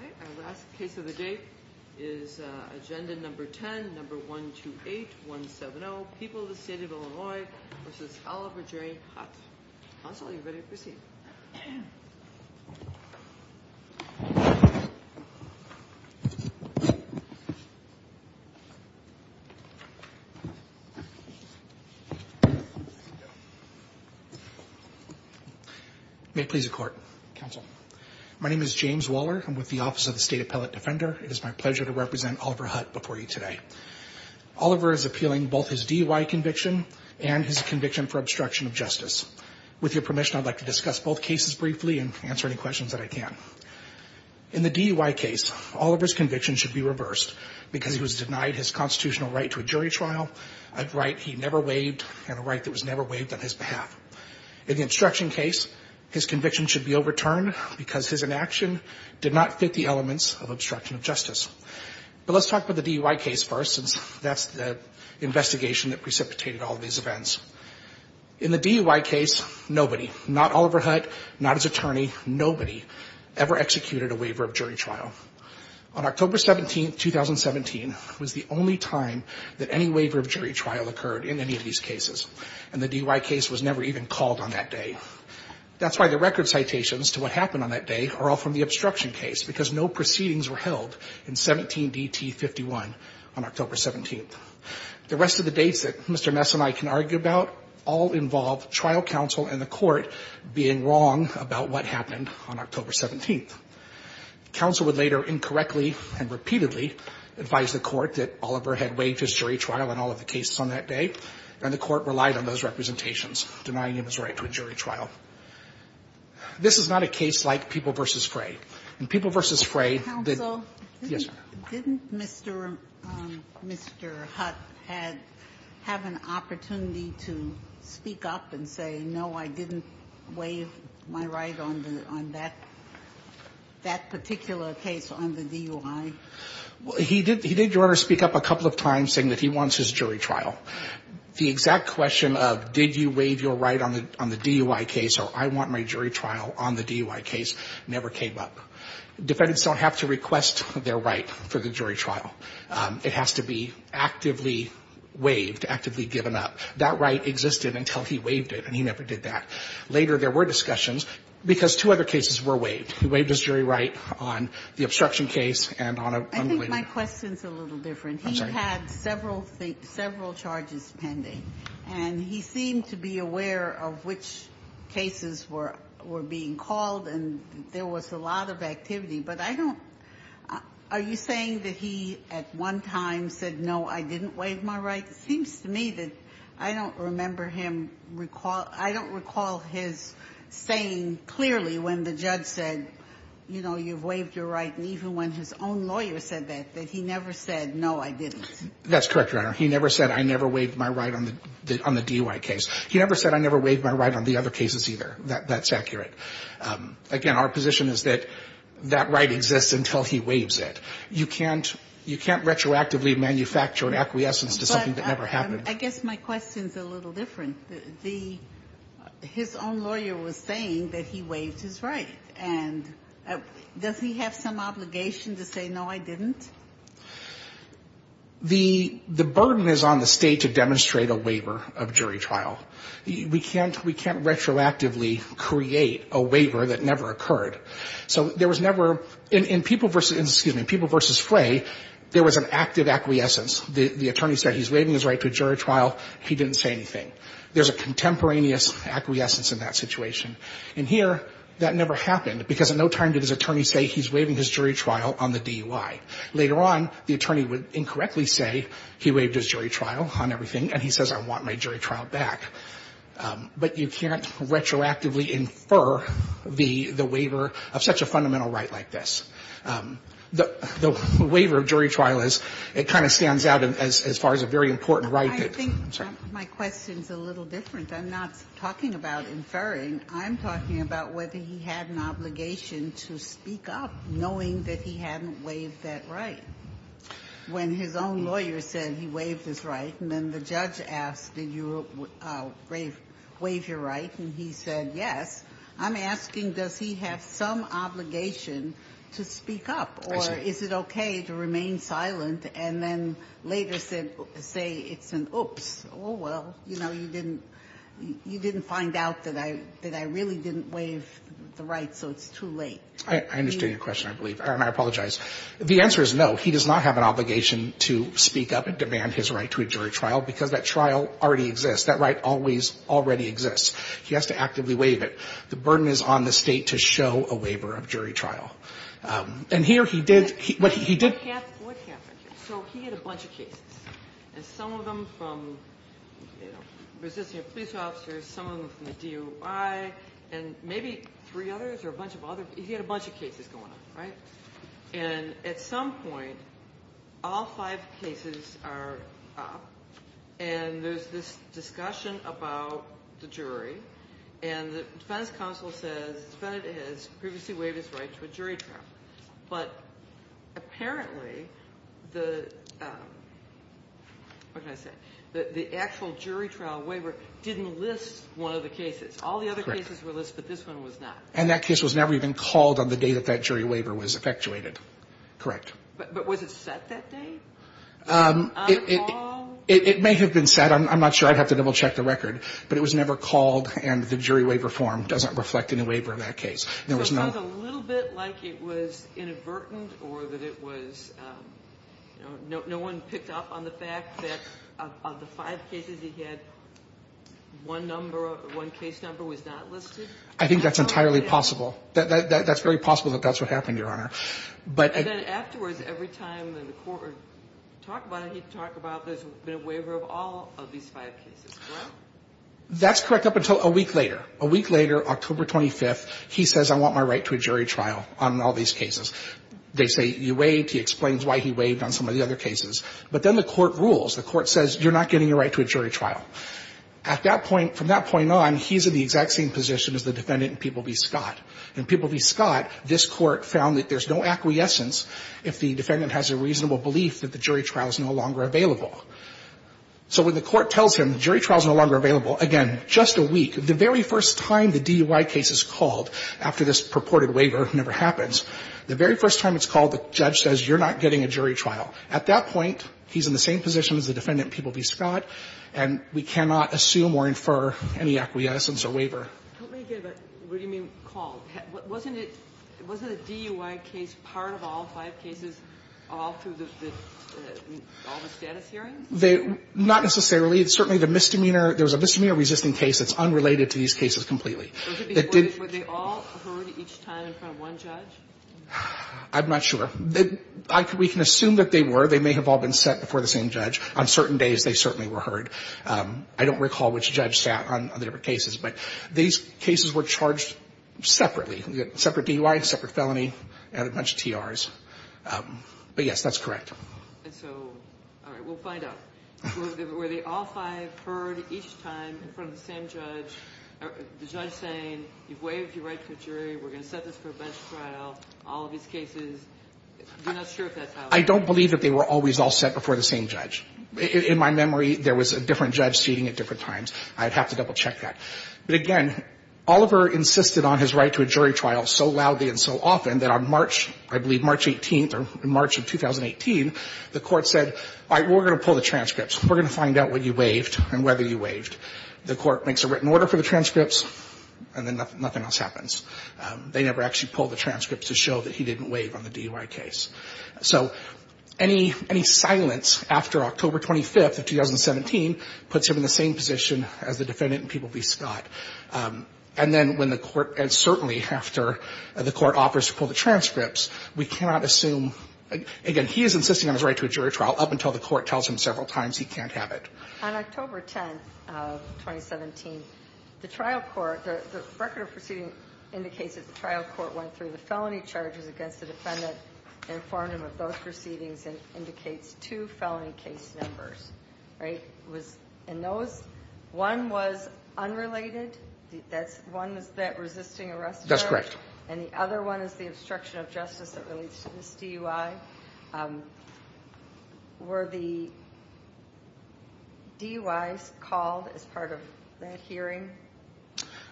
Our last case of the day is agenda number 10, number 128-170, People of the State of Illinois v. Oliver J. Hutt. Counsel, you're ready to proceed. May it please the Court. Counsel. My name is James Waller. I'm with the Office of the State Appellate Defender. It is my pleasure to represent Oliver Hutt before you today. Oliver is appealing both his DUI conviction and his conviction for obstruction of justice. With your permission, I'd like to discuss both cases briefly and answer any questions that I can. In the DUI case, Oliver's conviction should be reversed because he was denied his constitutional right to a jury trial, a right he never waived, and a right that was never waived on his behalf. In the obstruction case, his conviction should be overturned because his inaction did not fit the elements of obstruction of justice. But let's talk about the DUI case first, since that's the investigation that precipitated all of these events. In the DUI case, nobody, not Oliver Hutt, not his attorney, nobody ever executed a waiver of jury trial. On October 17, 2017, was the only time that any waiver of jury trial occurred in any of these cases, and the DUI case was never even called on that day. That's why the record citations to what happened on that day are all from the obstruction case, because no proceedings were held in 17DT51 on October 17th. The rest of the dates that Mr. Messonnier can argue about all involve trial counsel and the Court being wrong about what happened on October 17th. Counsel would later incorrectly and repeatedly advise the Court that Oliver had waived his jury trial on all of the cases on that day, and the Court relied on those representations denying him his right to a jury trial. This is not a case like People v. Fray. In People v. Fray, the -- Ginsburg-Cousins, did Mr. Hutt have an opportunity to speak up and say, no, I didn't waive my right on that particular case on the DUI? He did, Your Honor, speak up a couple of times saying that he wants his jury trial. The exact question of did you waive your right on the DUI case or I want my jury trial on the DUI case never came up. Defendants don't have to request their right for the jury trial. It has to be actively waived, actively given up. That right existed until he waived it, and he never did that. Later, there were discussions, because two other cases were waived. He waived his jury right on the obstruction case and on a complainant. Ginsburg-Cousins, I think my question is a little different. He had several charges pending, and he seemed to be aware of which cases were being called, and there was a lot of activity. But I don't – are you saying that he at one time said, no, I didn't waive my right? It seems to me that I don't remember him – I don't recall his saying clearly when the judge said, you know, you've waived your right, and even when his own lawyer said that, that he never said, no, I didn't. That's correct, Your Honor. He never said, I never waived my right on the DUI case. He never said, I never waived my right on the other cases either. That's accurate. Again, our position is that that right exists until he waives it. You can't – you can't retroactively manufacture an acquiescence to something that never happened. I guess my question is a little different. The – his own lawyer was saying that he waived his right. And does he have some obligation to say, no, I didn't? The – the burden is on the State to demonstrate a waiver of jury trial. We can't – we can't retroactively create a waiver that never occurred. So there was never – in People v. – excuse me, People v. Flay, there was an active acquiescence. The attorney said he's waiving his right to a jury trial. He didn't say anything. There's a contemporaneous acquiescence in that situation. In here, that never happened because in no time did his attorney say he's waiving his jury trial on the DUI. Later on, the attorney would incorrectly say he waived his jury trial on everything and he says, I want my jury trial back. But you can't retroactively infer the – the waiver of such a fundamental right like this. The waiver of jury trial is – it kind of stands out as far as a very important right that – I'm sorry. My question's a little different. I'm not talking about inferring. I'm talking about whether he had an obligation to speak up knowing that he hadn't waived that right. When his own lawyer said he waived his right and then the judge asked, did you waive your right, and he said yes, I'm asking, does he have some obligation to speak up or is it okay to remain silent and then later say it's an oops, oh, well, you know, you didn't – you didn't find out that I really didn't waive the right, so it's too late. I understand your question, I believe. And I apologize. The answer is no. He does not have an obligation to speak up and demand his right to a jury trial because that trial already exists. That right always already exists. He has to actively waive it. The burden is on the State to show a waiver of jury trial. And here he did – he did – What happened here? So he had a bunch of cases, and some of them from, you know, resisting a police officer, some of them from the DOI, and maybe three others or a bunch of other – he had a bunch of cases going on, right? And at some point, all five cases are up and there's this discussion about the jury and the defense counsel says the defendant has previously waived his right to a jury trial, but apparently the – what can I say? The actual jury trial waiver didn't list one of the cases. All the other cases were listed, but this one was not. And that case was never even called on the day that that jury waiver was effectuated. Correct. But was it set that day? On call? It may have been set. I'm not sure. I'd have to double-check the record. But it was never called and the jury waiver form doesn't reflect any waiver in that case. So it sounds a little bit like it was inadvertent or that it was – you know, no one picked up on the fact that of the five cases he had, one number – one case number was not listed? I think that's entirely possible. That's very possible that that's what happened, Your Honor. And then afterwards, every time the court would talk about it, he'd talk about there's been a waiver of all of these five cases, correct? That's correct up until a week later. A week later, October 25th, he says, I want my right to a jury trial on all these cases. They say, you waived. He explains why he waived on some of the other cases. But then the court rules. The court says, you're not getting your right to a jury trial. At that point – from that point on, he's in the exact same position as the defendant in People v. Scott. In People v. Scott, this Court found that there's no acquiescence if the defendant has a reasonable belief that the jury trial is no longer available. So when the court tells him the jury trial is no longer available, again, just a week, the very first time the DUI case is called after this purported waiver never happens, the very first time it's called, the judge says, you're not getting a jury trial. At that point, he's in the same position as the defendant in People v. Scott, and we cannot assume or infer any acquiescence or waiver. Kagan, what do you mean called? Wasn't it – wasn't a DUI case part of all five cases all through the – all the status hearings? They – not necessarily. Certainly, the misdemeanor – there was a misdemeanor resisting case that's unrelated to these cases completely. Was it before – were they all heard each time in front of one judge? I'm not sure. We can assume that they were. They may have all been set before the same judge. On certain days, they certainly were heard. I don't recall which judge sat on the different cases. But these cases were charged separately. Separate DUI, separate felony, and a bunch of TRs. But, yes, that's correct. And so, all right, we'll find out. Were they all five heard each time in front of the same judge? The judge saying, you've waived your right to a jury, we're going to set this for a bench trial, all of these cases. You're not sure if that's how it happened? I don't believe that they were always all set before the same judge. In my memory, there was a different judge seating at different times. I'd have to double-check that. But, again, Oliver insisted on his right to a jury trial so loudly and so often that on March, I believe March 18th or March of 2018, the court said, all right, we're going to pull the transcripts. We're going to find out what you waived and whether you waived. The court makes a written order for the transcripts, and then nothing else happens. They never actually pulled the transcripts to show that he didn't waive on the DUI case. So any silence after October 25th of 2017 puts him in the same position as the defendant and people be scoffed. And then when the court, and certainly after the court offers to pull the transcripts, we cannot assume. Again, he is insisting on his right to a jury trial up until the court tells him several times he can't have it. On October 10th of 2017, the trial court, the record of proceedings indicates that the trial court went through the felony charges against the defendant, informed him of those proceedings, and indicates two felony case numbers, right? And those, one was unrelated. That's, one was that resisting arrest. That's correct. And the other one is the obstruction of justice that relates to this DUI. Were the DUIs called as part of that hearing?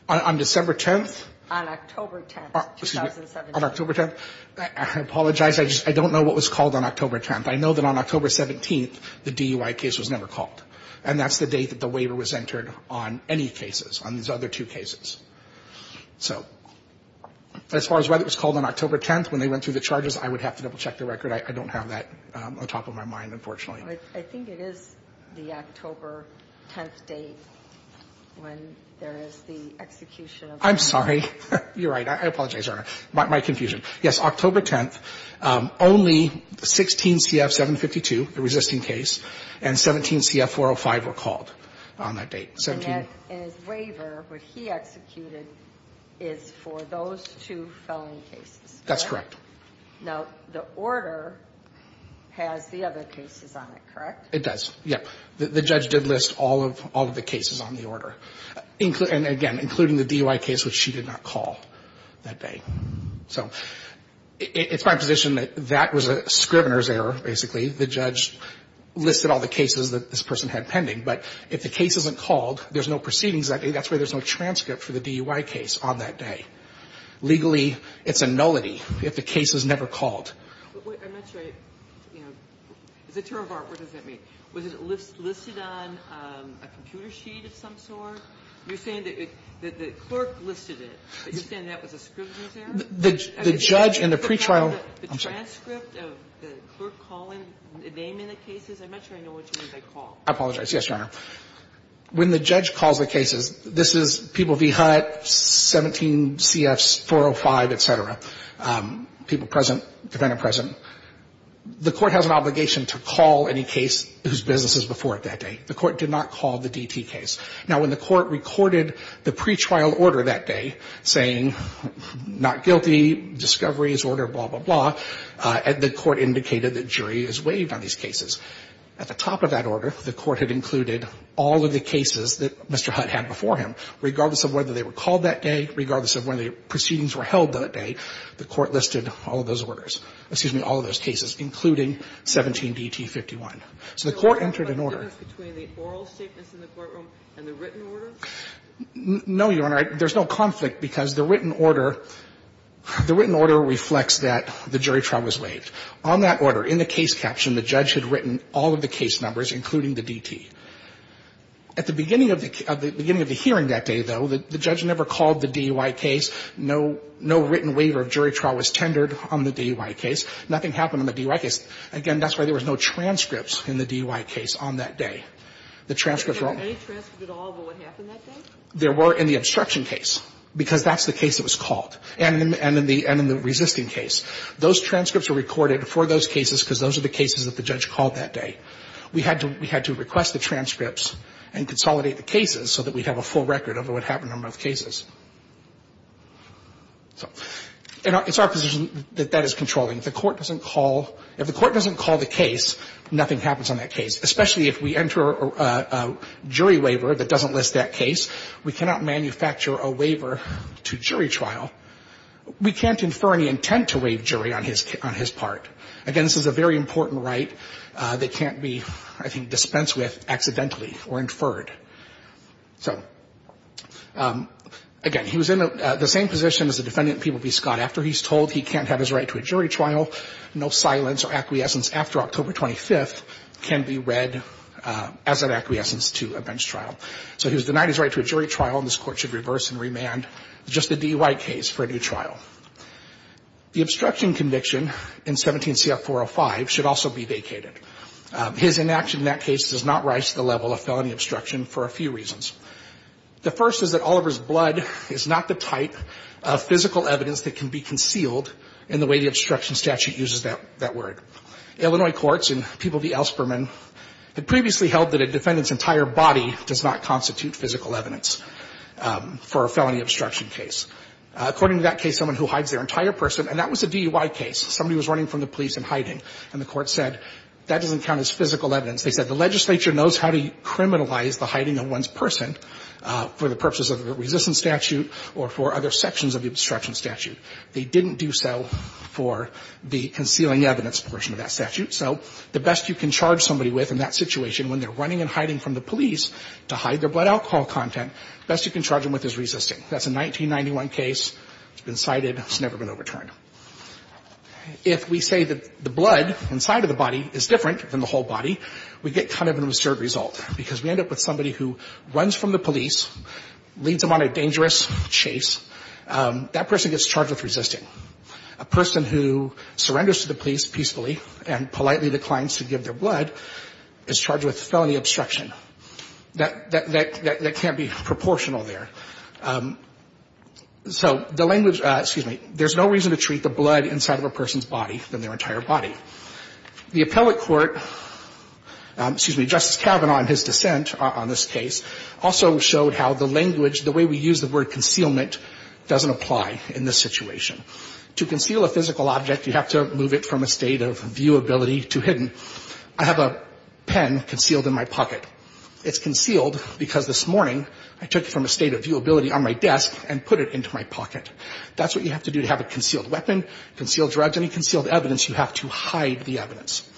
On December 10th? On October 10th of 2017. On October 10th? I apologize. I just, I don't know what was called on October 10th. I know that on October 17th, the DUI case was never called. And that's the date that the waiver was entered on any cases, on these other two cases. So as far as whether it was called on October 10th when they went through the charges, I would have to double-check the record. I don't have that on top of my mind, unfortunately. I think it is the October 10th date when there is the execution of the DUI. I'm sorry. You're right. I apologize, Your Honor. My confusion. Yes, October 10th, only 16 CF-752, the resisting case, and 17 CF-405 were called on that date. And his waiver, what he executed, is for those two felony cases. That's correct. Now, the order has the other cases on it, correct? It does, yep. The judge did list all of the cases on the order. And again, including the DUI case, which she did not call that day. So it's my position that that was a scrivener's error, basically. The judge listed all the cases that this person had pending. But if the case isn't called, there's no proceedings that day. That's why there's no transcript for the DUI case on that day. Legally, it's a nullity if the case is never called. I'm not sure I, you know, is it terroir? What does that mean? Was it listed on a computer sheet of some sort? You're saying that the clerk listed it. You're saying that was a scrivener's error? The judge in the pretrial. The transcript of the clerk calling the name in the cases? I'm not sure I know what you mean by call. I apologize. Yes, Your Honor. When the judge calls the cases, this is People v. Hutt, 17 CF-405, et cetera. People present, defendant present. The Court has an obligation to call any case whose business is before it that day. The Court did not call the DT case. Now, when the Court recorded the pretrial order that day, saying not guilty, discovery is order, blah, blah, blah, the Court indicated that jury is waived on these cases. At the top of that order, the Court had included all of the cases that Mr. Hutt had before him, regardless of whether they were called that day, regardless of whether the proceedings were held that day, the Court listed all of those orders, excuse me, all of those cases, including 17 DT-51. So the Court entered an order. No, Your Honor. There's no conflict, because the written order reflects that the jury trial was waived. On that order, in the case caption, the judge had written all of the case numbers, including the DT. At the beginning of the hearing that day, though, the judge never called the DUI case. No written waiver of jury trial was tendered on the DUI case. Nothing happened on the DUI case. Again, that's why there was no transcripts in the DUI case on that day. The transcripts were all of the cases that the judge called that day. There were in the obstruction case, because that's the case that was called, and in the resisting case. Those transcripts were recorded for those cases because those are the cases that the judge called that day. We had to request the transcripts and consolidate the cases so that we'd have a full record of what happened on both cases. So it's our position that that is controlling. If the Court doesn't call the case, nothing happens on that case, especially if we enter a jury waiver that doesn't list that case. We cannot manufacture a waiver to jury trial. We can't infer any intent to waive jury on his part. Again, this is a very important right that can't be, I think, dispensed with accidentally or inferred. So, again, he was in the same position as the defendant, Peeble B. Scott. After he's told he can't have his right to a jury trial, no silence or acquiescence after October 25th can be read as an acquiescence to a bench trial. So he was denied his right to a jury trial, and this Court should reverse and remand just the DUI case for a new trial. The obstruction conviction in 17 CF-405 should also be vacated. His inaction in that case does not rise to the level of felony obstruction for a few reasons. The first is that Oliver's blood is not the type of physical evidence that can be concealed in the way the obstruction statute uses that word. Illinois courts and Peeble v. Elsperman had previously held that a defendant's entire body does not constitute physical evidence for a felony obstruction case. According to that case, someone who hides their entire person, and that was a DUI case. Somebody was running from the police and hiding, and the Court said that doesn't count as physical evidence. They said the legislature knows how to criminalize the hiding of one's person for the purposes of the resistance statute or for other sections of the obstruction statute. They didn't do so for the concealing evidence portion of that statute. So the best you can charge somebody with in that situation, when they're running and hiding from the police to hide their blood alcohol content, the best you can charge them with is resisting. That's a 1991 case. It's been cited. It's never been overturned. If we say that the blood inside of the body is different than the whole body, we get kind of an absurd result, because we end up with somebody who runs from the police, leads them on a dangerous chase. That person gets charged with resisting. A person who surrenders to the police peacefully and politely declines to give their blood is charged with felony obstruction. That can't be proportional there. So the language, excuse me, there's no reason to treat the blood inside of a person's body than their entire body. The appellate court, excuse me, Justice Kavanaugh in his dissent on this case, also showed how the language, the way we use the word concealment doesn't apply in this situation. To conceal a physical object, you have to move it from a state of viewability to hidden. I have a pen concealed in my pocket. It's concealed because this morning I took it from a state of viewability on my desk and put it into my pocket. That's what you have to do to have a concealed weapon, concealed drugs, any concealed evidence. You have to hide the evidence.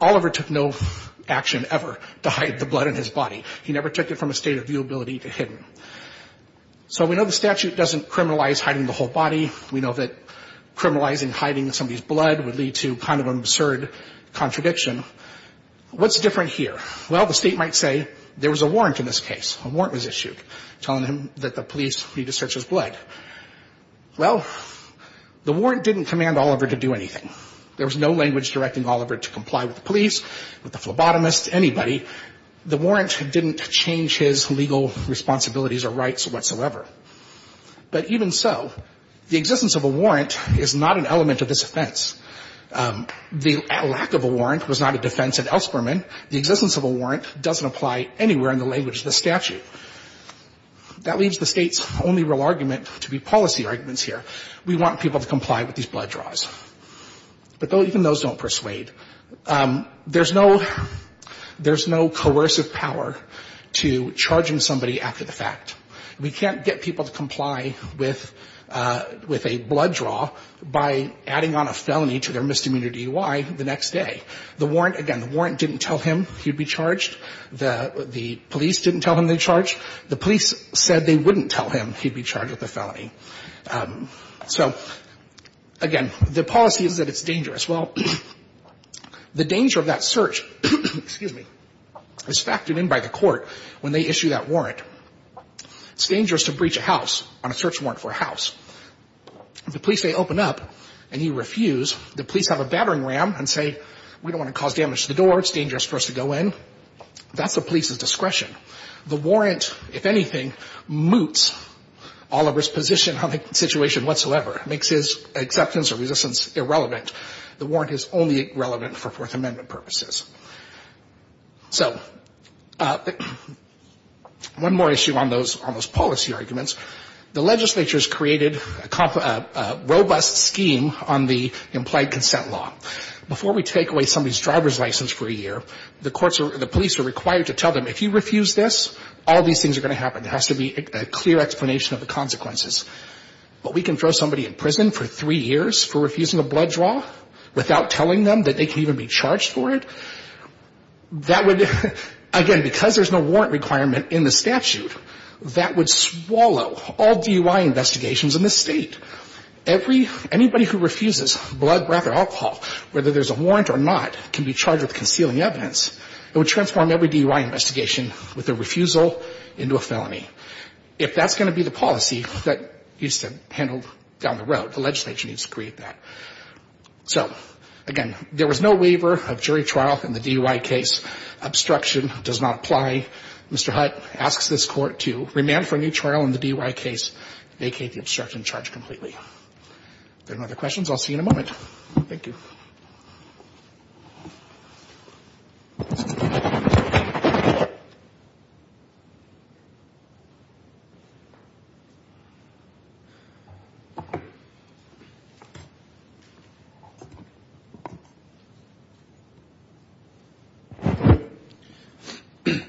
Oliver took no action ever to hide the blood in his body. He never took it from a state of viewability to hidden. So we know the statute doesn't criminalize hiding the whole body. We know that criminalizing hiding somebody's blood would lead to kind of an absurd contradiction. What's different here? Well, the state might say there was a warrant in this case. A warrant was issued telling him that the police need to search his blood. Well, the warrant didn't command Oliver to do anything. There was no language directing Oliver to comply with the police, with the phlebotomist, anybody. The warrant didn't change his legal responsibilities or rights whatsoever. But even so, the existence of a warrant is not an element of this offense. The lack of a warrant was not a defense at Ellsperman. The existence of a warrant doesn't apply anywhere in the language of the statute. That leaves the state's only real argument to be policy arguments here. We want people to comply with these blood draws. But even those don't persuade. There's no coercive power to charge in somebody after the fact. We can't get people to comply with a blood draw by adding on a felony to their misdemeanor DUI the next day. The warrant, again, the warrant didn't tell him he'd be charged. The police didn't tell him they'd charge. The police said they wouldn't tell him he'd be charged with a felony. So, again, the policy is that it's dangerous. Well, the danger of that search, excuse me, is factored in by the court when they issue that warrant. It's dangerous to breach a house on a search warrant for a house. If the police say open up and you refuse, the police have a battering ram and say we don't want to cause damage to the door, it's dangerous for us to go in. That's the police's discretion. The warrant, if anything, moots Oliver's position on the situation whatsoever, makes his acceptance or resistance irrelevant. The warrant is only relevant for Fourth Amendment purposes. So one more issue on those policy arguments. The legislature has created a robust scheme on the implied consent law. Before we take away somebody's driver's license for a year, the courts or the police are required to tell them if you refuse this, all these things are going to happen. There has to be a clear explanation of the consequences. But we can throw somebody in prison for three years for refusing a blood draw without telling them that they can even be charged for it? That would, again, because there's no warrant requirement in the statute, that would swallow all DUI investigations in this State. Every, anybody who refuses blood, breath, or alcohol, whether there's a warrant or not, can be charged with concealing evidence. It would transform every DUI investigation with a refusal into a felony. If that's going to be the policy that needs to be handled down the road, the legislature needs to create that. So, again, there was no waiver of jury trial in the DUI case. Obstruction does not apply. Mr. Hutt asks this Court to remand for a new trial in the DUI case, vacate the obstruction charge completely. If there are no other questions, I'll see you in a moment. Thank you. Thank you. Good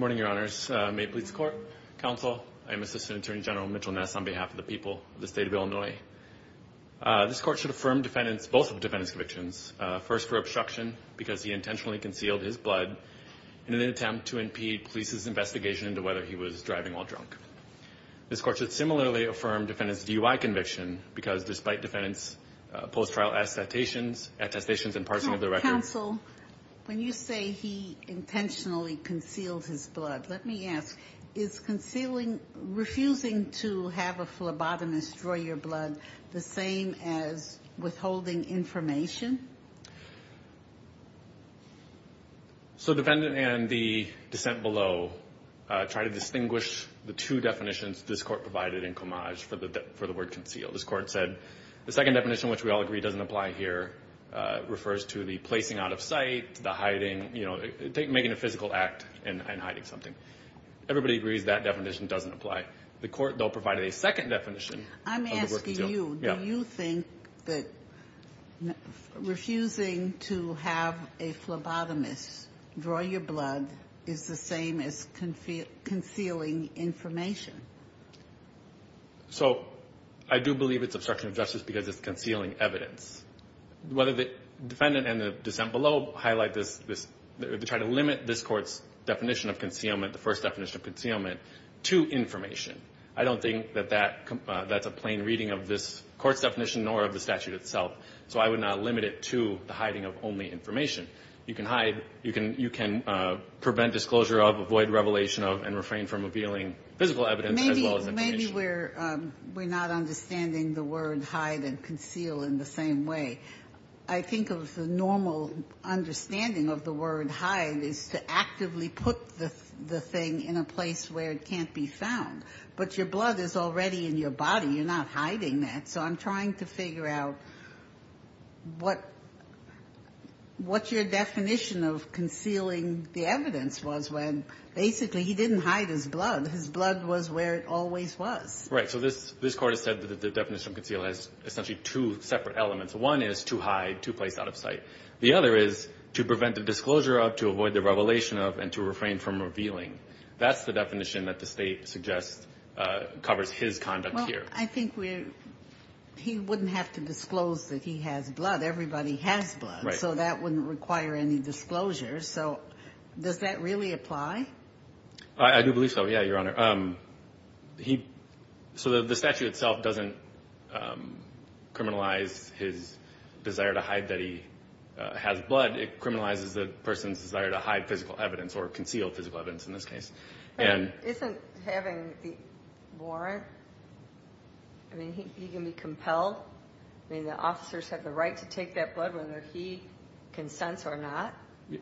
morning, Your Honors. May it please the Court, Counsel, I'm Assistant Attorney General Mitchell Ness on behalf of the people of the State of Illinois. This Court should affirm defendants, both defendants' convictions, first for obstruction because he intentionally concealed his blood in an attempt to impede police's investigation into whether he was driving while drunk. This Court should similarly affirm defendants' DUI conviction because despite defendants' post-trial attestations and parsing of the record. Counsel, when you say he intentionally concealed his blood, let me ask, is concealing, refusing to have a phlebotomist draw your blood the same as withholding information? So defendant and the dissent below try to distinguish the two definitions this Court provided in homage for the word concealed. This Court said the second definition, which we all agree doesn't apply here, refers to the placing out of sight, the hiding, you know, making a physical act and hiding something. Everybody agrees that definition doesn't apply. The Court, though, provided a second definition of the word concealed. I'm asking you, do you think that refusing to have a phlebotomist draw your blood is the same as concealing information? So I do believe it's obstruction of justice because it's concealing evidence. Whether the defendant and the dissent below highlight this, they try to limit this first definition of concealment to information. I don't think that that's a plain reading of this Court's definition nor of the statute itself. So I would not limit it to the hiding of only information. You can hide. You can prevent disclosure of, avoid revelation of, and refrain from revealing physical evidence as well as information. Maybe we're not understanding the word hide and conceal in the same way. I think of the normal understanding of the word hide is to actively put the thing in a place where it can't be found. But your blood is already in your body. You're not hiding that. So I'm trying to figure out what your definition of concealing the evidence was when basically he didn't hide his blood. His blood was where it always was. Right. So this Court has said that the definition of conceal has essentially two separate elements. One is to hide, to place out of sight. The other is to prevent the disclosure of, to avoid the revelation of, and to refrain from revealing. That's the definition that the State suggests covers his conduct here. Well, I think he wouldn't have to disclose that he has blood. Everybody has blood. Right. So that wouldn't require any disclosure. So does that really apply? I do believe so, yeah, Your Honor. So the statute itself doesn't criminalize his desire to hide that he has blood. It criminalizes the person's desire to hide physical evidence or conceal physical evidence in this case. Isn't having the warrant, I mean, he can be compelled? I mean, the officers have the right to take that blood whether he consents or not.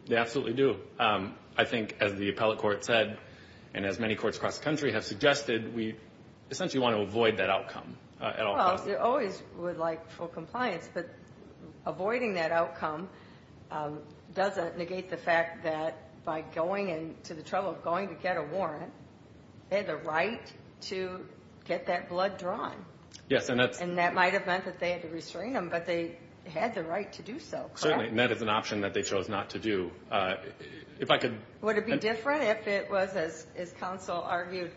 They absolutely do. So I think, as the appellate court said, and as many courts across the country have suggested, we essentially want to avoid that outcome at all costs. Well, they always would like full compliance, but avoiding that outcome doesn't negate the fact that by going into the trouble of going to get a warrant, they had the right to get that blood drawn. Yes, and that's And that might have meant that they had to restrain him, but they had the right to do so. Certainly, and that is an option that they chose not to do. Would it be different if it was, as counsel argued,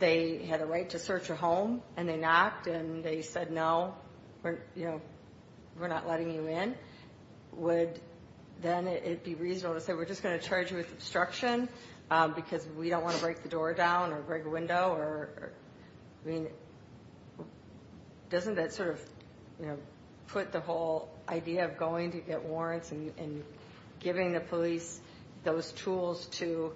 they had a right to search a home and they knocked and they said, no, we're not letting you in? Would then it be reasonable to say, we're just going to charge you with obstruction because we don't want to break the door down or break a window? I mean, doesn't that sort of put the whole idea of going to get warrants and giving the police those tools to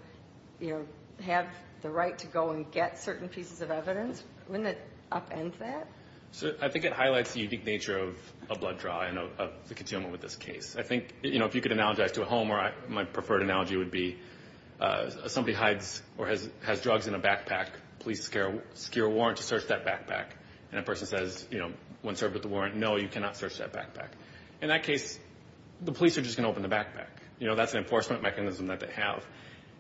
have the right to go and get certain pieces of evidence? Wouldn't it upend that? I think it highlights the unique nature of a blood draw and of the concealment with this case. I think if you could analogize to a home, my preferred analogy would be somebody hides or has drugs in a backpack. Police secure a warrant to search that backpack. And that person says, when served with the warrant, no, you cannot search that backpack. In that case, the police are just going to open the backpack. That's an enforcement mechanism that they have.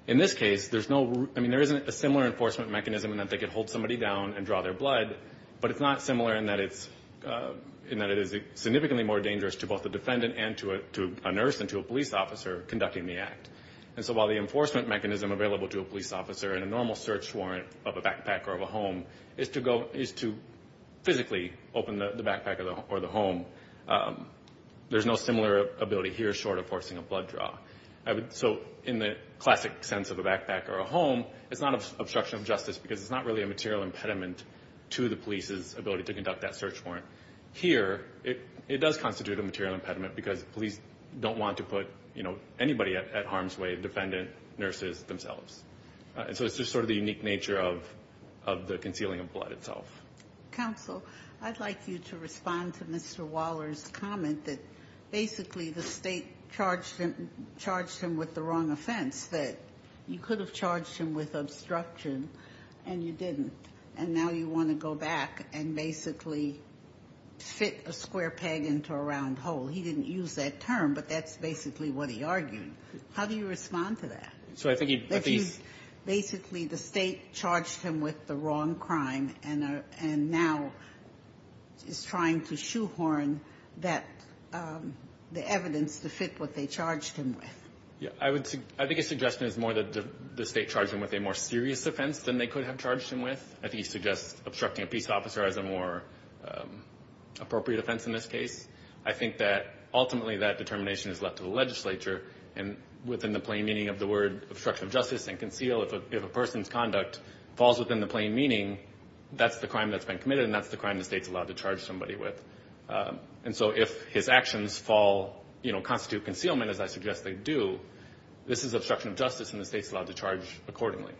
In this case, there isn't a similar enforcement mechanism in that they could hold somebody down and draw their blood, but it's not similar in that it is significantly more dangerous to both the defendant and to a nurse and to a police officer conducting the act. And so while the enforcement mechanism available to a police officer in a normal search warrant of a backpack or of a home is to physically open the backpack or the home, there's no similar ability here short of forcing a blood draw. So in the classic sense of a backpack or a home, it's not obstruction of justice because it's not really a material impediment to the police's ability to conduct that search warrant. Here, it does constitute a material impediment because police don't want to put anybody at harm's way, the defendant, nurses, themselves. So it's just sort of the unique nature of the concealing of blood itself. Counsel, I'd like you to respond to Mr. Waller's comment that basically the state charged him with the wrong offense, that you could have charged him with obstruction and you didn't. And now you want to go back and basically fit a square peg into a round hole. He didn't use that term, but that's basically what he argued. How do you respond to that? Basically the state charged him with the wrong crime and now is trying to shoehorn the evidence to fit what they charged him with. I think his suggestion is more that the state charged him with a more serious offense than they could have charged him with. I think he suggests obstructing a police officer as a more appropriate offense in this case. I think that ultimately that determination is left to the legislature and within the plain meaning of the word obstruction of justice and conceal, if a person's conduct falls within the plain meaning, that's the crime that's been committed and that's the crime the state's allowed to charge somebody with. And so if his actions constitute concealment, as I suggest they do, this is obstruction of justice and the state's allowed to charge accordingly.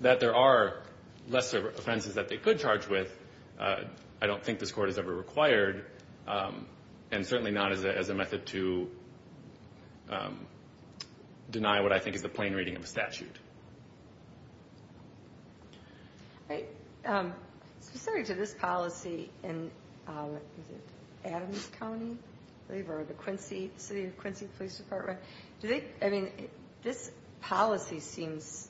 That there are lesser offenses that they could charge with, I don't think this court has ever required, and certainly not as a method to deny what I think is the plain reading of a statute. Specific to this policy in Adams County, I believe, or the city of Quincy Police Department, this policy seems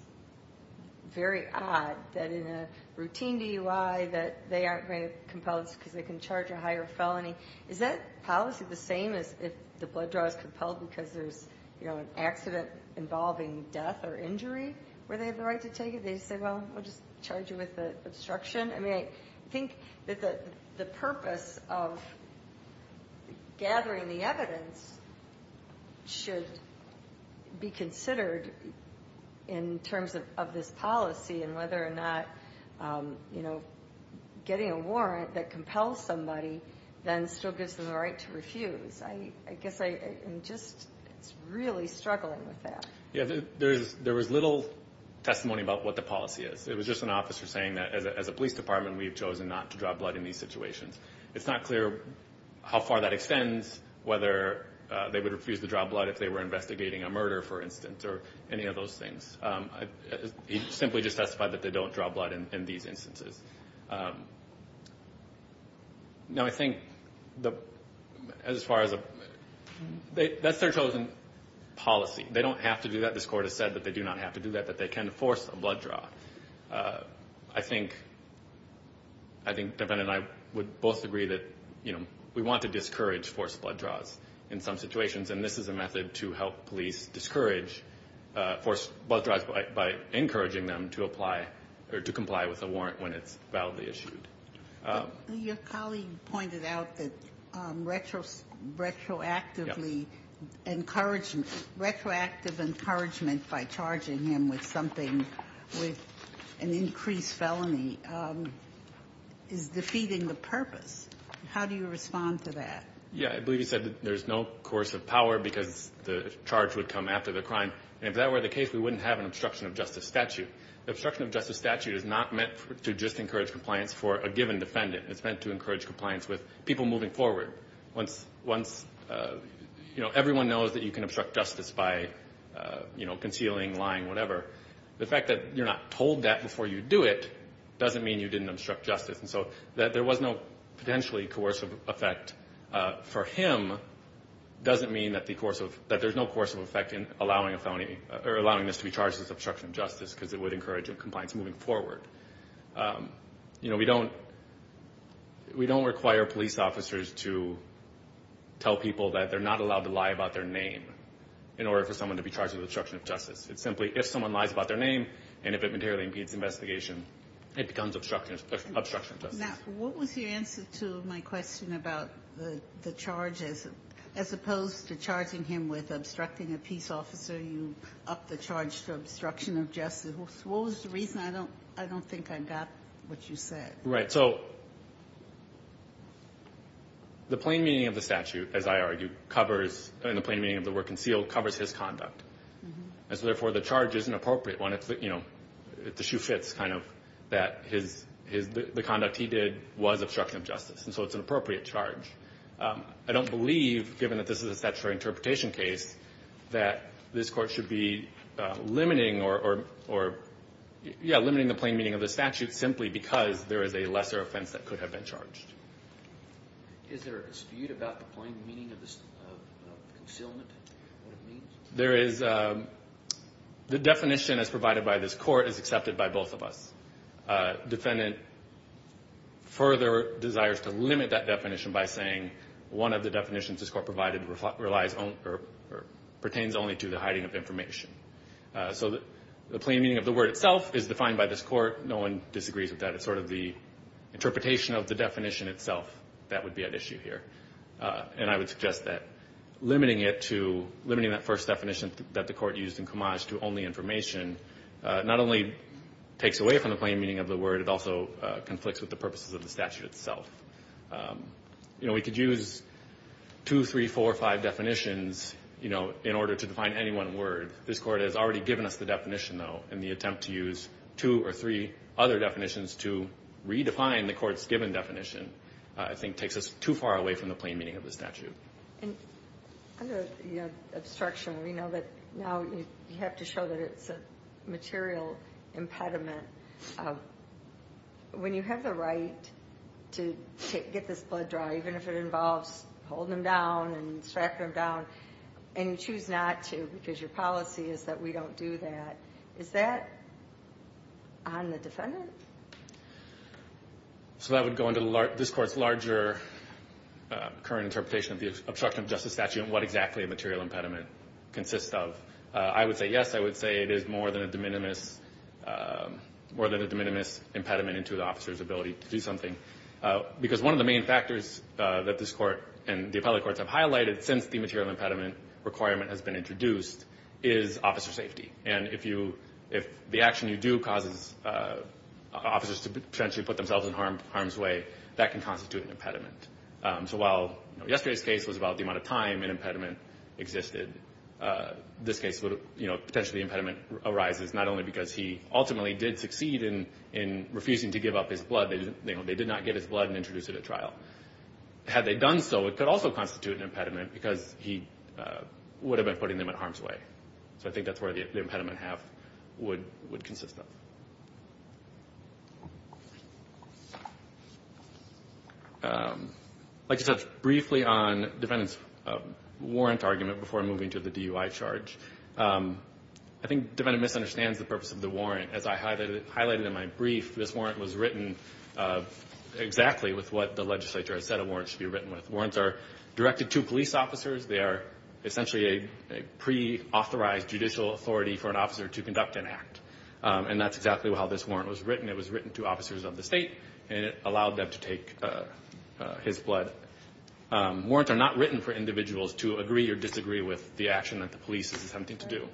very odd that in a routine DUI that they aren't very compelled because they can charge a higher felony. Is that policy the same as if the blood draw is compelled because there's an accident involving death or injury where they have the right to take it? They just say, well, we'll just charge you with obstruction? I mean, I think that the purpose of gathering the evidence should be considered in terms of this policy and whether or not, you know, getting a warrant that compels somebody then still gives them the right to refuse. I guess I'm just really struggling with that. Yeah, there was little testimony about what the policy is. It was just an officer saying that as a police department, we have chosen not to draw blood in these situations. It's not clear how far that extends, whether they would refuse to draw blood if they were investigating a murder, for instance, or any of those things. He simply just testified that they don't draw blood in these instances. Now, I think as far as a – that's their chosen policy. They don't have to do that. This Court has said that they do not have to do that, that they can force a blood draw. I think Devan and I would both agree that, you know, we want to discourage forced blood draws in some situations, and this is a method to help police discourage forced blood draws by encouraging them to comply with a warrant when it's validly issued. Your colleague pointed out that retroactively encouragement – retroactive encouragement by charging him with something, with an increased felony, is defeating the purpose. How do you respond to that? Yeah, I believe he said that there's no course of power because the charge would come after the crime, and if that were the case, we wouldn't have an obstruction of justice statute. The obstruction of justice statute is not meant to just encourage compliance for a given defendant. It's meant to encourage compliance with people moving forward. Once, you know, everyone knows that you can obstruct justice by, you know, concealing, lying, whatever. The fact that you're not told that before you do it doesn't mean you didn't obstruct justice, and so that there was no potentially coercive effect for him doesn't mean that there's no coercive effect in allowing a felony – or allowing this to be charged as obstruction of justice because it would encourage compliance moving forward. You know, we don't – we don't require police officers to tell people that they're not allowed to lie about their name in order for someone to be charged with obstruction of justice. It's simply if someone lies about their name and if it materially impedes investigation, it becomes obstruction of justice. Now, what was your answer to my question about the charge as opposed to charging him with obstructing a peace officer? You upped the charge to obstruction of justice. What was the reason? I don't – I don't think I got what you said. Right. So the plain meaning of the statute, as I argue, covers – and the plain meaning of the word concealed covers his conduct. And so therefore, the charge is an appropriate one. It's, you know, the shoe fits kind of that his – the conduct he did was obstruction of justice. And so it's an appropriate charge. I don't believe, given that this is a statutory interpretation case, that this Court should be limiting or – yeah, limiting the plain meaning of the statute simply because there is a lesser offense that could have been charged. Is there a dispute about the plain meaning of this concealment, what it means? There is – the definition as provided by this Court is accepted by both of us. Defendant further desires to limit that definition by saying one of the definitions this Court provided relies on or pertains only to the hiding of information. So the plain meaning of the word itself is defined by this Court. No one disagrees with that. It's sort of the interpretation of the definition itself that would be at issue here. And I would suggest that limiting it to – limiting that first definition that the Court used in Comage to only information not only takes away from the plain meaning of the word, it also conflicts with the purposes of the statute itself. You know, we could use two, three, four, or five definitions, you know, in order to define any one word. This Court has already given us the definition, though, and the attempt to use two or three other definitions to redefine the Court's given definition, I think, takes us too far away from the plain meaning of the statute. I have an obstruction. We know that now you have to show that it's a material impediment. When you have the right to get this blood dry, even if it involves holding them down and strapping them down, and you choose not to because your policy is that we don't do that, is that on the defendant? So that would go into this Court's larger current interpretation of the obstruction of justice statute and what exactly a material impediment consists of. I would say yes. I would say it is more than a de minimis impediment into the officer's ability to do something. Because one of the main factors that this Court and the appellate courts have highlighted since the material impediment requirement has been introduced is officer safety. And if the action you do causes officers to potentially put themselves in harm's way, that can constitute an impediment. So while yesterday's case was about the amount of time an impediment existed, this case would potentially impediment arises not only because he ultimately did succeed in refusing to give up his blood. They did not give his blood and introduce it at trial. Had they done so, it could also constitute an impediment because he would have been putting them in harm's way. So I think that's where the impediment half would consist of. Like I said, briefly on defendant's warrant argument before moving to the DUI charge. I think the defendant misunderstands the purpose of the warrant. As I highlighted in my brief, this warrant was written exactly with what the legislature has said a warrant should be written with. Warrants are directed to police officers. They are essentially a pre-authorized judicial authority for an officer to conduct an act. And that's exactly how this warrant was written. It was written to officers of the state, and it allowed them to take his blood. Warrants are not written for individuals to agree or disagree with the action that the police is attempting to do.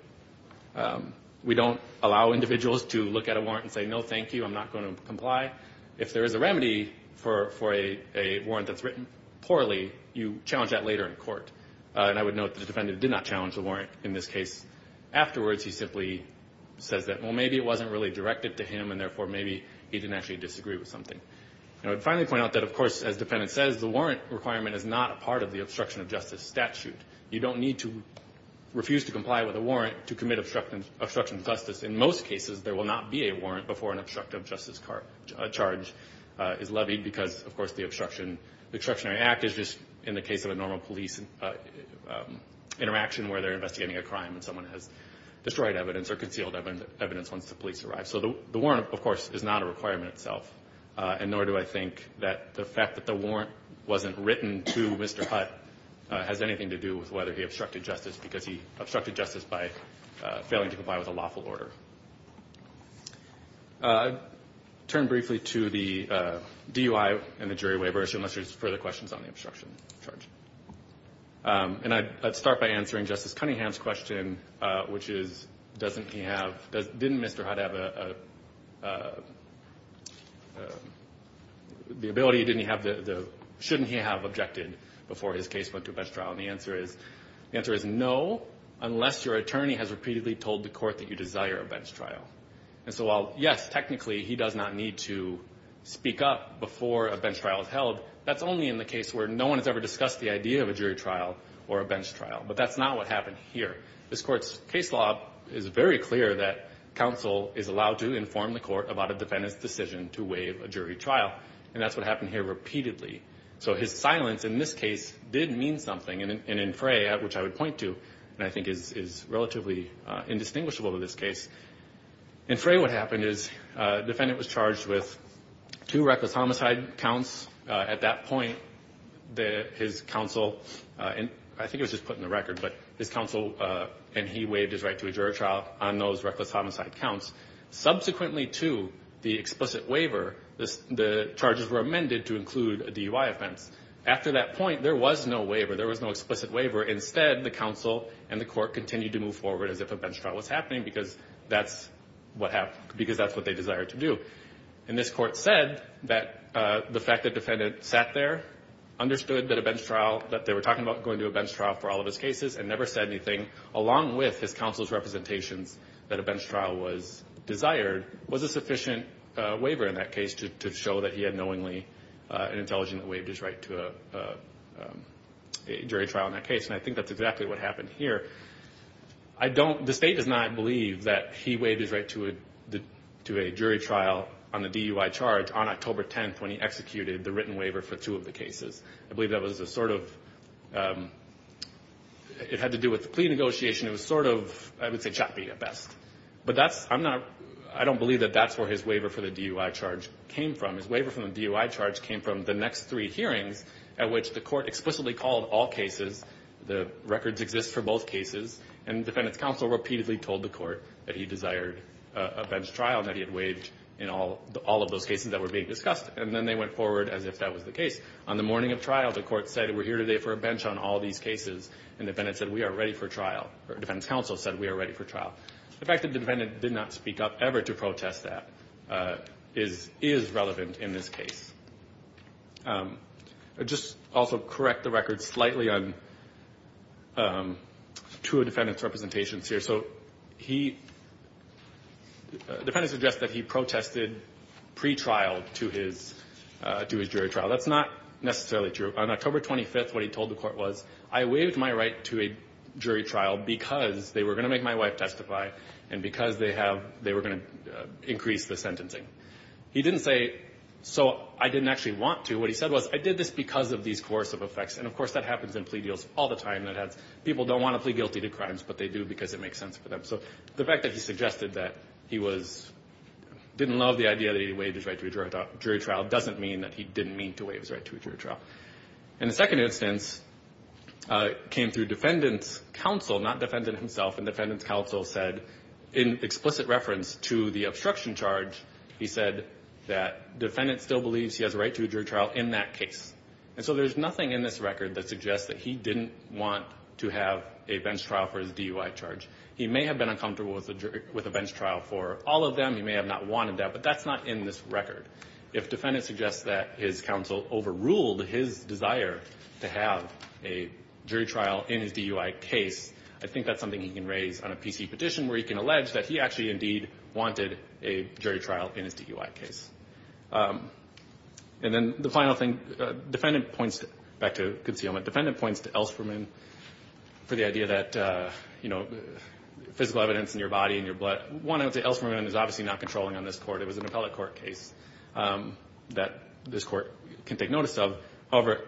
We don't allow individuals to look at a warrant and say, no, thank you, I'm not going to comply. If there is a remedy for a warrant that's written poorly, you challenge that later in court. And I would note the defendant did not challenge the warrant in this case. Afterwards, he simply says that, well, maybe it wasn't really directed to him, and therefore maybe he didn't actually disagree with something. I would finally point out that, of course, as the defendant says, the warrant requirement is not a part of the obstruction of justice statute. You don't need to refuse to comply with a warrant to commit obstruction of justice. In most cases, there will not be a warrant before an obstruction of justice charge is levied because, of course, the obstructionary act is just, in the case of a normal police interaction where they're investigating a crime and someone has destroyed evidence or concealed evidence once the police arrive. So the warrant, of course, is not a requirement itself. Nor do I think that the fact that the warrant wasn't written to Mr. Hutt has anything to do with whether he obstructed justice because he obstructed justice by failing to comply with a lawful order. I'd turn briefly to the DUI and the jury waiver issue unless there's further questions on the obstruction charge. And I'd start by answering Justice Cunningham's question, which is, doesn't he have, didn't Mr. Hutt have a, the ability, didn't he have the, shouldn't he have objected before his case went to a best trial? And the answer is no, unless your attorney has repeatedly told the court that you desire a bench trial. And so while, yes, technically he does not need to speak up before a bench trial is held, that's only in the case where no one has ever discussed the idea of a jury trial or a bench trial. But that's not what happened here. This court's case law is very clear that counsel is allowed to inform the court about a defendant's decision to waive a jury trial. And that's what happened here repeatedly. So his silence in this case did mean something. And in Frey, which I would point to, and I think is relatively indistinguishable to this case, in Frey what happened is the defendant was charged with two reckless homicide counts. At that point, his counsel, and I think it was just put in the record, but his counsel and he waived his right to a jury trial on those reckless homicide counts. Subsequently to the explicit waiver, the charges were amended to include a DUI offense. After that point, there was no waiver. There was no explicit waiver. Instead, the counsel and the court continued to move forward as if a bench trial was happening because that's what happened, because that's what they desired to do. And this court said that the fact that the defendant sat there, understood that a bench trial, that they were talking about going to a bench trial for all of his cases, and never said anything, along with his counsel's representations that a bench trial was desired, was a sufficient waiver in that case to show that he had knowingly and I think that's exactly what happened here. I don't, the state does not believe that he waived his right to a jury trial on the DUI charge on October 10th when he executed the written waiver for two of the cases. I believe that was a sort of, it had to do with the plea negotiation. It was sort of, I would say choppy at best, but that's, I'm not, I don't believe that that's where his waiver for the DUI charge came from. His waiver from the DUI charge came from the next three hearings at which the court explicitly called all cases. The records exist for both cases, and the defendant's counsel repeatedly told the court that he desired a bench trial, that he had waived in all of those cases that were being discussed, and then they went forward as if that was the case. On the morning of trial, the court said we're here today for a bench on all these cases, and the defendant said we are ready for trial, or the defendant's counsel said we are ready for trial. The fact that the defendant did not speak up ever to protest that is, is relevant in this case. I'll just also correct the record slightly on two of the defendant's representations here. So he, the defendant suggests that he protested pretrial to his, to his jury trial. That's not necessarily true. On October 25th, what he told the court was, I waived my right to a jury trial because they were going to make my wife testify, and because they have, they were going to increase the sentencing. He didn't say, so I didn't actually want to. What he said was, I did this because of these coercive effects, and of course that happens in plea deals all the time. People don't want to plead guilty to crimes, but they do because it makes sense for them. So the fact that he suggested that he was, didn't love the idea that he waived his right to a jury trial doesn't mean that he didn't mean to waive his right to a jury trial. And the second instance came through defendant's counsel, not defendant himself, and defendant's counsel said, in explicit reference to the obstruction charge, he said that defendant still believes he has a right to a jury trial in that case. And so there's nothing in this record that suggests that he didn't want to have a bench trial for his DUI charge. He may have been uncomfortable with a bench trial for all of them. He may have not wanted that, but that's not in this record. If defendant suggests that his counsel overruled his desire to have a jury trial in his DUI case, I think that's something he can raise on a PC petition where he can allege that he actually indeed wanted a jury trial in his DUI case. And then the final thing, defendant points, back to concealment, defendant points to Ellsperman for the idea that, you know, physical evidence in your body and your blood. One, I would say Ellsperman is obviously not controlling on this court. It was an appellate court case that this court can take notice of. However,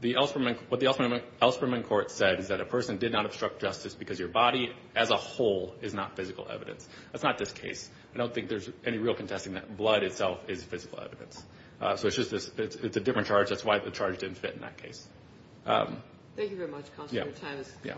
the Ellsperman, what the Ellsperman court said is that a person did not obstruct justice because your body as a whole is not physical evidence. That's not this case. I don't think there's any real contesting that blood itself is physical evidence. So it's just this, it's a different charge. That's why the charge didn't fit in that case. Thank you very much. Yeah. Thank you.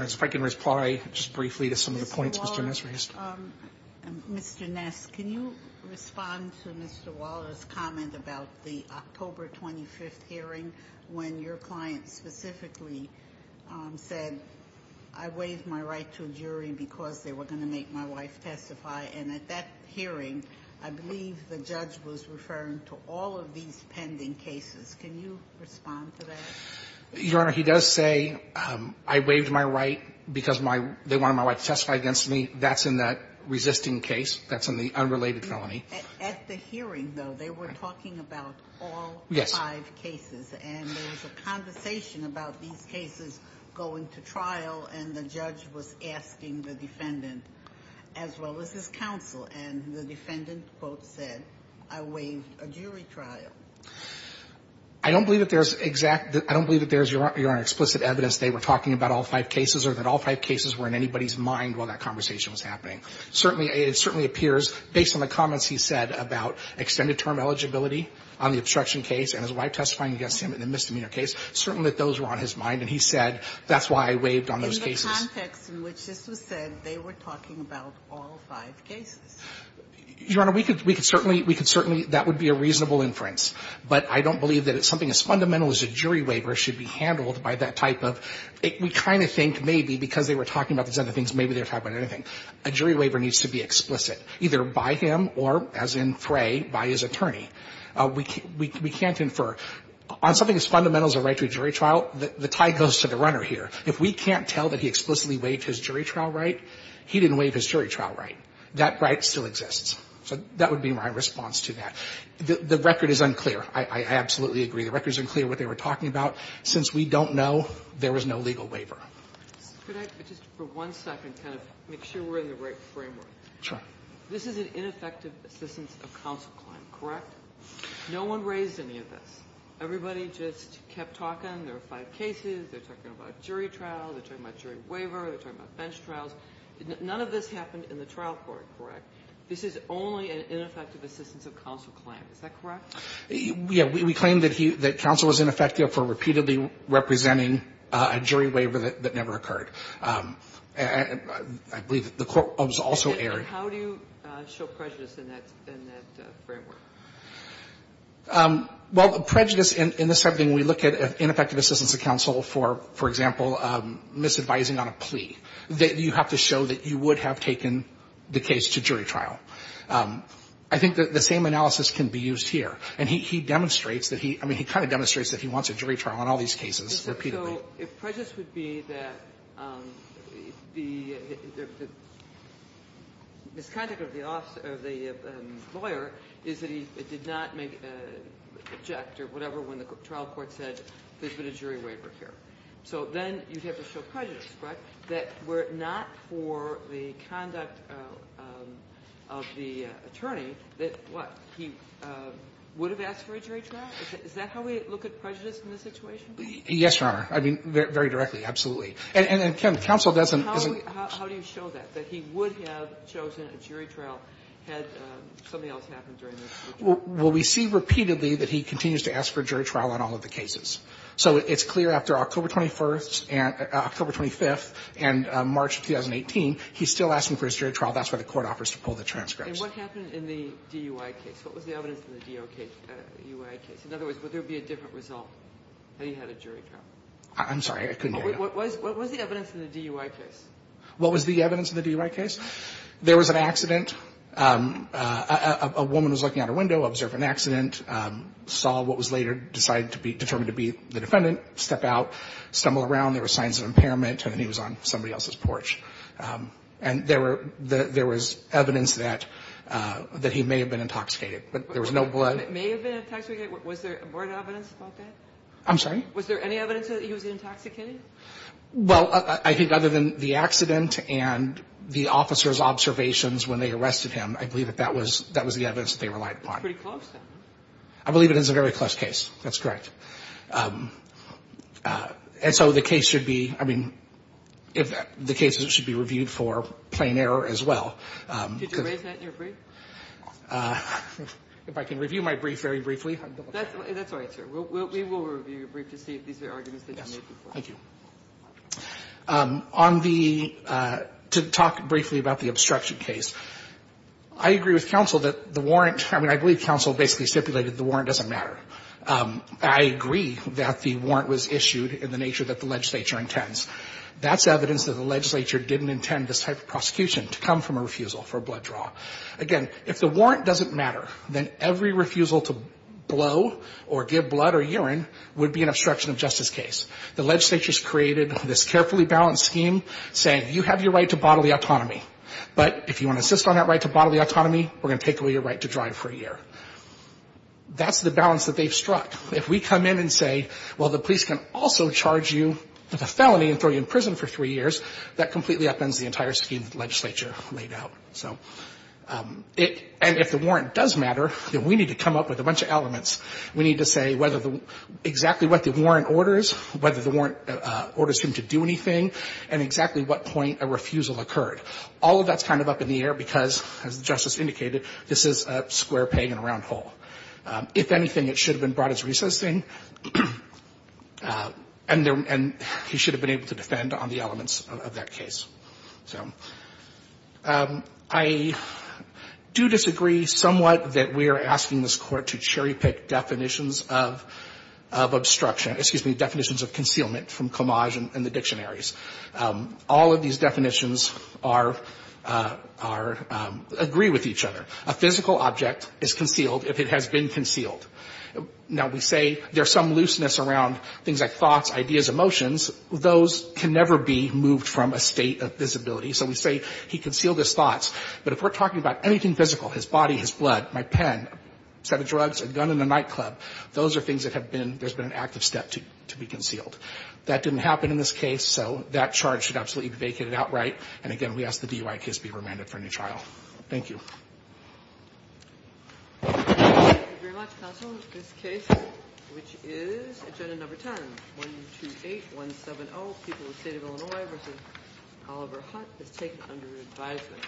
If I can reply just briefly to some of the points, Mr. Ness, can you respond to Mr. Ness' hearing when your client specifically said, I waived my right to a jury because they were going to make my wife testify? And at that hearing, I believe the judge was referring to all of these pending cases. Can you respond to that? Your Honor, he does say, I waived my right because my, they wanted my wife to testify against me. That's in that resisting case. That's in the unrelated felony. At the hearing, though, they were talking about all five cases. And there was a conversation about these cases going to trial, and the judge was asking the defendant, as well as his counsel, and the defendant, quote, said, I waived a jury trial. I don't believe that there's exact, I don't believe that there's, Your Honor, explicit evidence they were talking about all five cases or that all five cases were in anybody's mind while that conversation was happening. Certainly, it certainly appears, based on the comments he said about extended term eligibility on the obstruction case and his wife testifying against him in the misdemeanor case, certainly those were on his mind. And he said, that's why I waived on those cases. In the context in which this was said, they were talking about all five cases. Your Honor, we could certainly, we could certainly, that would be a reasonable inference. But I don't believe that something as fundamental as a jury waiver should be handled by that type of, we kind of think maybe because they were talking about these other things, maybe they were talking about anything. A jury waiver needs to be explicit, either by him or, as in Fray, by his attorney. We can't infer. On something as fundamental as a right to a jury trial, the tie goes to the runner here. If we can't tell that he explicitly waived his jury trial right, he didn't waive his jury trial right. That right still exists. So that would be my response to that. The record is unclear. I absolutely agree. The record is unclear what they were talking about. Since we don't know, there was no legal waiver. Kagan. But just for one second, kind of make sure we're in the right framework. Sure. This is an ineffective assistance of counsel claim, correct? No one raised any of this. Everybody just kept talking. There were five cases. They're talking about jury trials. They're talking about jury waiver. They're talking about bench trials. None of this happened in the trial court, correct? This is only an ineffective assistance of counsel claim. Is that correct? Yeah. We claim that he, that counsel was ineffective for repeatedly representing a jury waiver that never occurred. I believe the court was also aired. How do you show prejudice in that framework? Well, prejudice in this setting, we look at ineffective assistance of counsel for, for example, misadvising on a plea. You have to show that you would have taken the case to jury trial. I think the same analysis can be used here. And he demonstrates that he, I mean he kind of demonstrates that he wants a jury trial on all these cases repeatedly. So if prejudice would be that the, the misconduct of the lawyer is that he did not make, object or whatever when the trial court said there's been a jury waiver here. So then you'd have to show prejudice, correct? That were it not for the conduct of the attorney, that what, he would have asked for a jury trial? Is that how we look at prejudice in this situation? Yes, Your Honor. I mean, very directly. Absolutely. And counsel doesn't. How do you show that? That he would have chosen a jury trial had something else happened during this? Well, we see repeatedly that he continues to ask for jury trial on all of the cases. So it's clear after October 21st and, October 25th and March of 2018, he's still asking for his jury trial. That's why the court offers to pull the transcripts. And what happened in the DUI case? What was the evidence in the DUI case? In other words, would there be a different result? That he had a jury trial. I'm sorry, I couldn't hear you. What was the evidence in the DUI case? What was the evidence in the DUI case? There was an accident. A woman was looking out her window, observed an accident, saw what was later determined to be the defendant, step out, stumble around, there were signs of impairment, and then he was on somebody else's porch. And there was evidence that he may have been intoxicated. But there was no blood. May have been intoxicated? Was there more evidence about that? I'm sorry? Was there any evidence that he was intoxicated? Well, I think other than the accident and the officer's observations when they arrested him, I believe that that was the evidence that they relied upon. That's pretty close then. I believe it is a very close case. That's correct. And so the case should be, I mean, the case should be reviewed for plain error as well. Did you raise that in your brief? If I can review my brief very briefly. That's all right, sir. We will review your brief to see if these are arguments that you made before. Thank you. On the to talk briefly about the obstruction case, I agree with counsel that the warrant, I mean, I believe counsel basically stipulated the warrant doesn't matter. I agree that the warrant was issued in the nature that the legislature intends. That's evidence that the legislature didn't intend this type of prosecution to come from a refusal for a blood draw. Again, if the warrant doesn't matter, then every refusal to blow or give blood or urine would be an obstruction of justice case. The legislature has created this carefully balanced scheme saying, you have your right to bodily autonomy, but if you want to insist on that right to bodily autonomy, we're going to take away your right to drive for a year. That's the balance that they've struck. If we come in and say, well, the police can also charge you with a felony and throw you in prison for three years, that completely upends the entire scheme that the legislature laid out. So it, and if the warrant does matter, then we need to come up with a bunch of elements. We need to say whether the, exactly what the warrant orders, whether the warrant orders him to do anything, and exactly what point a refusal occurred. All of that's kind of up in the air because, as the Justice indicated, this is a square peg in a round hole. If anything, it should have been brought as recessing, and there, and he should have been able to defend on the elements of that case. So I do disagree somewhat that we are asking this Court to cherry pick definitions of, of obstruction, excuse me, definitions of concealment from Comage and the dictionaries. All of these definitions are, are, agree with each other. A physical object is concealed if it has been concealed. Now, we say there's some looseness around things like thoughts, ideas, emotions. Those can never be moved from a state of visibility. So we say he concealed his thoughts. But if we're talking about anything physical, his body, his blood, my pen, a set of drugs, a gun and a nightclub, those are things that have been, there's been an active step to be concealed. That didn't happen in this case, so that charge should absolutely be vacated outright. And again, we ask the DUI case be remanded for a new trial. Thank you. Thank you very much, Counsel. This case, which is agenda number 10, 128170, People of the State of Illinois v. Oliver Hutt, is taken under advisement.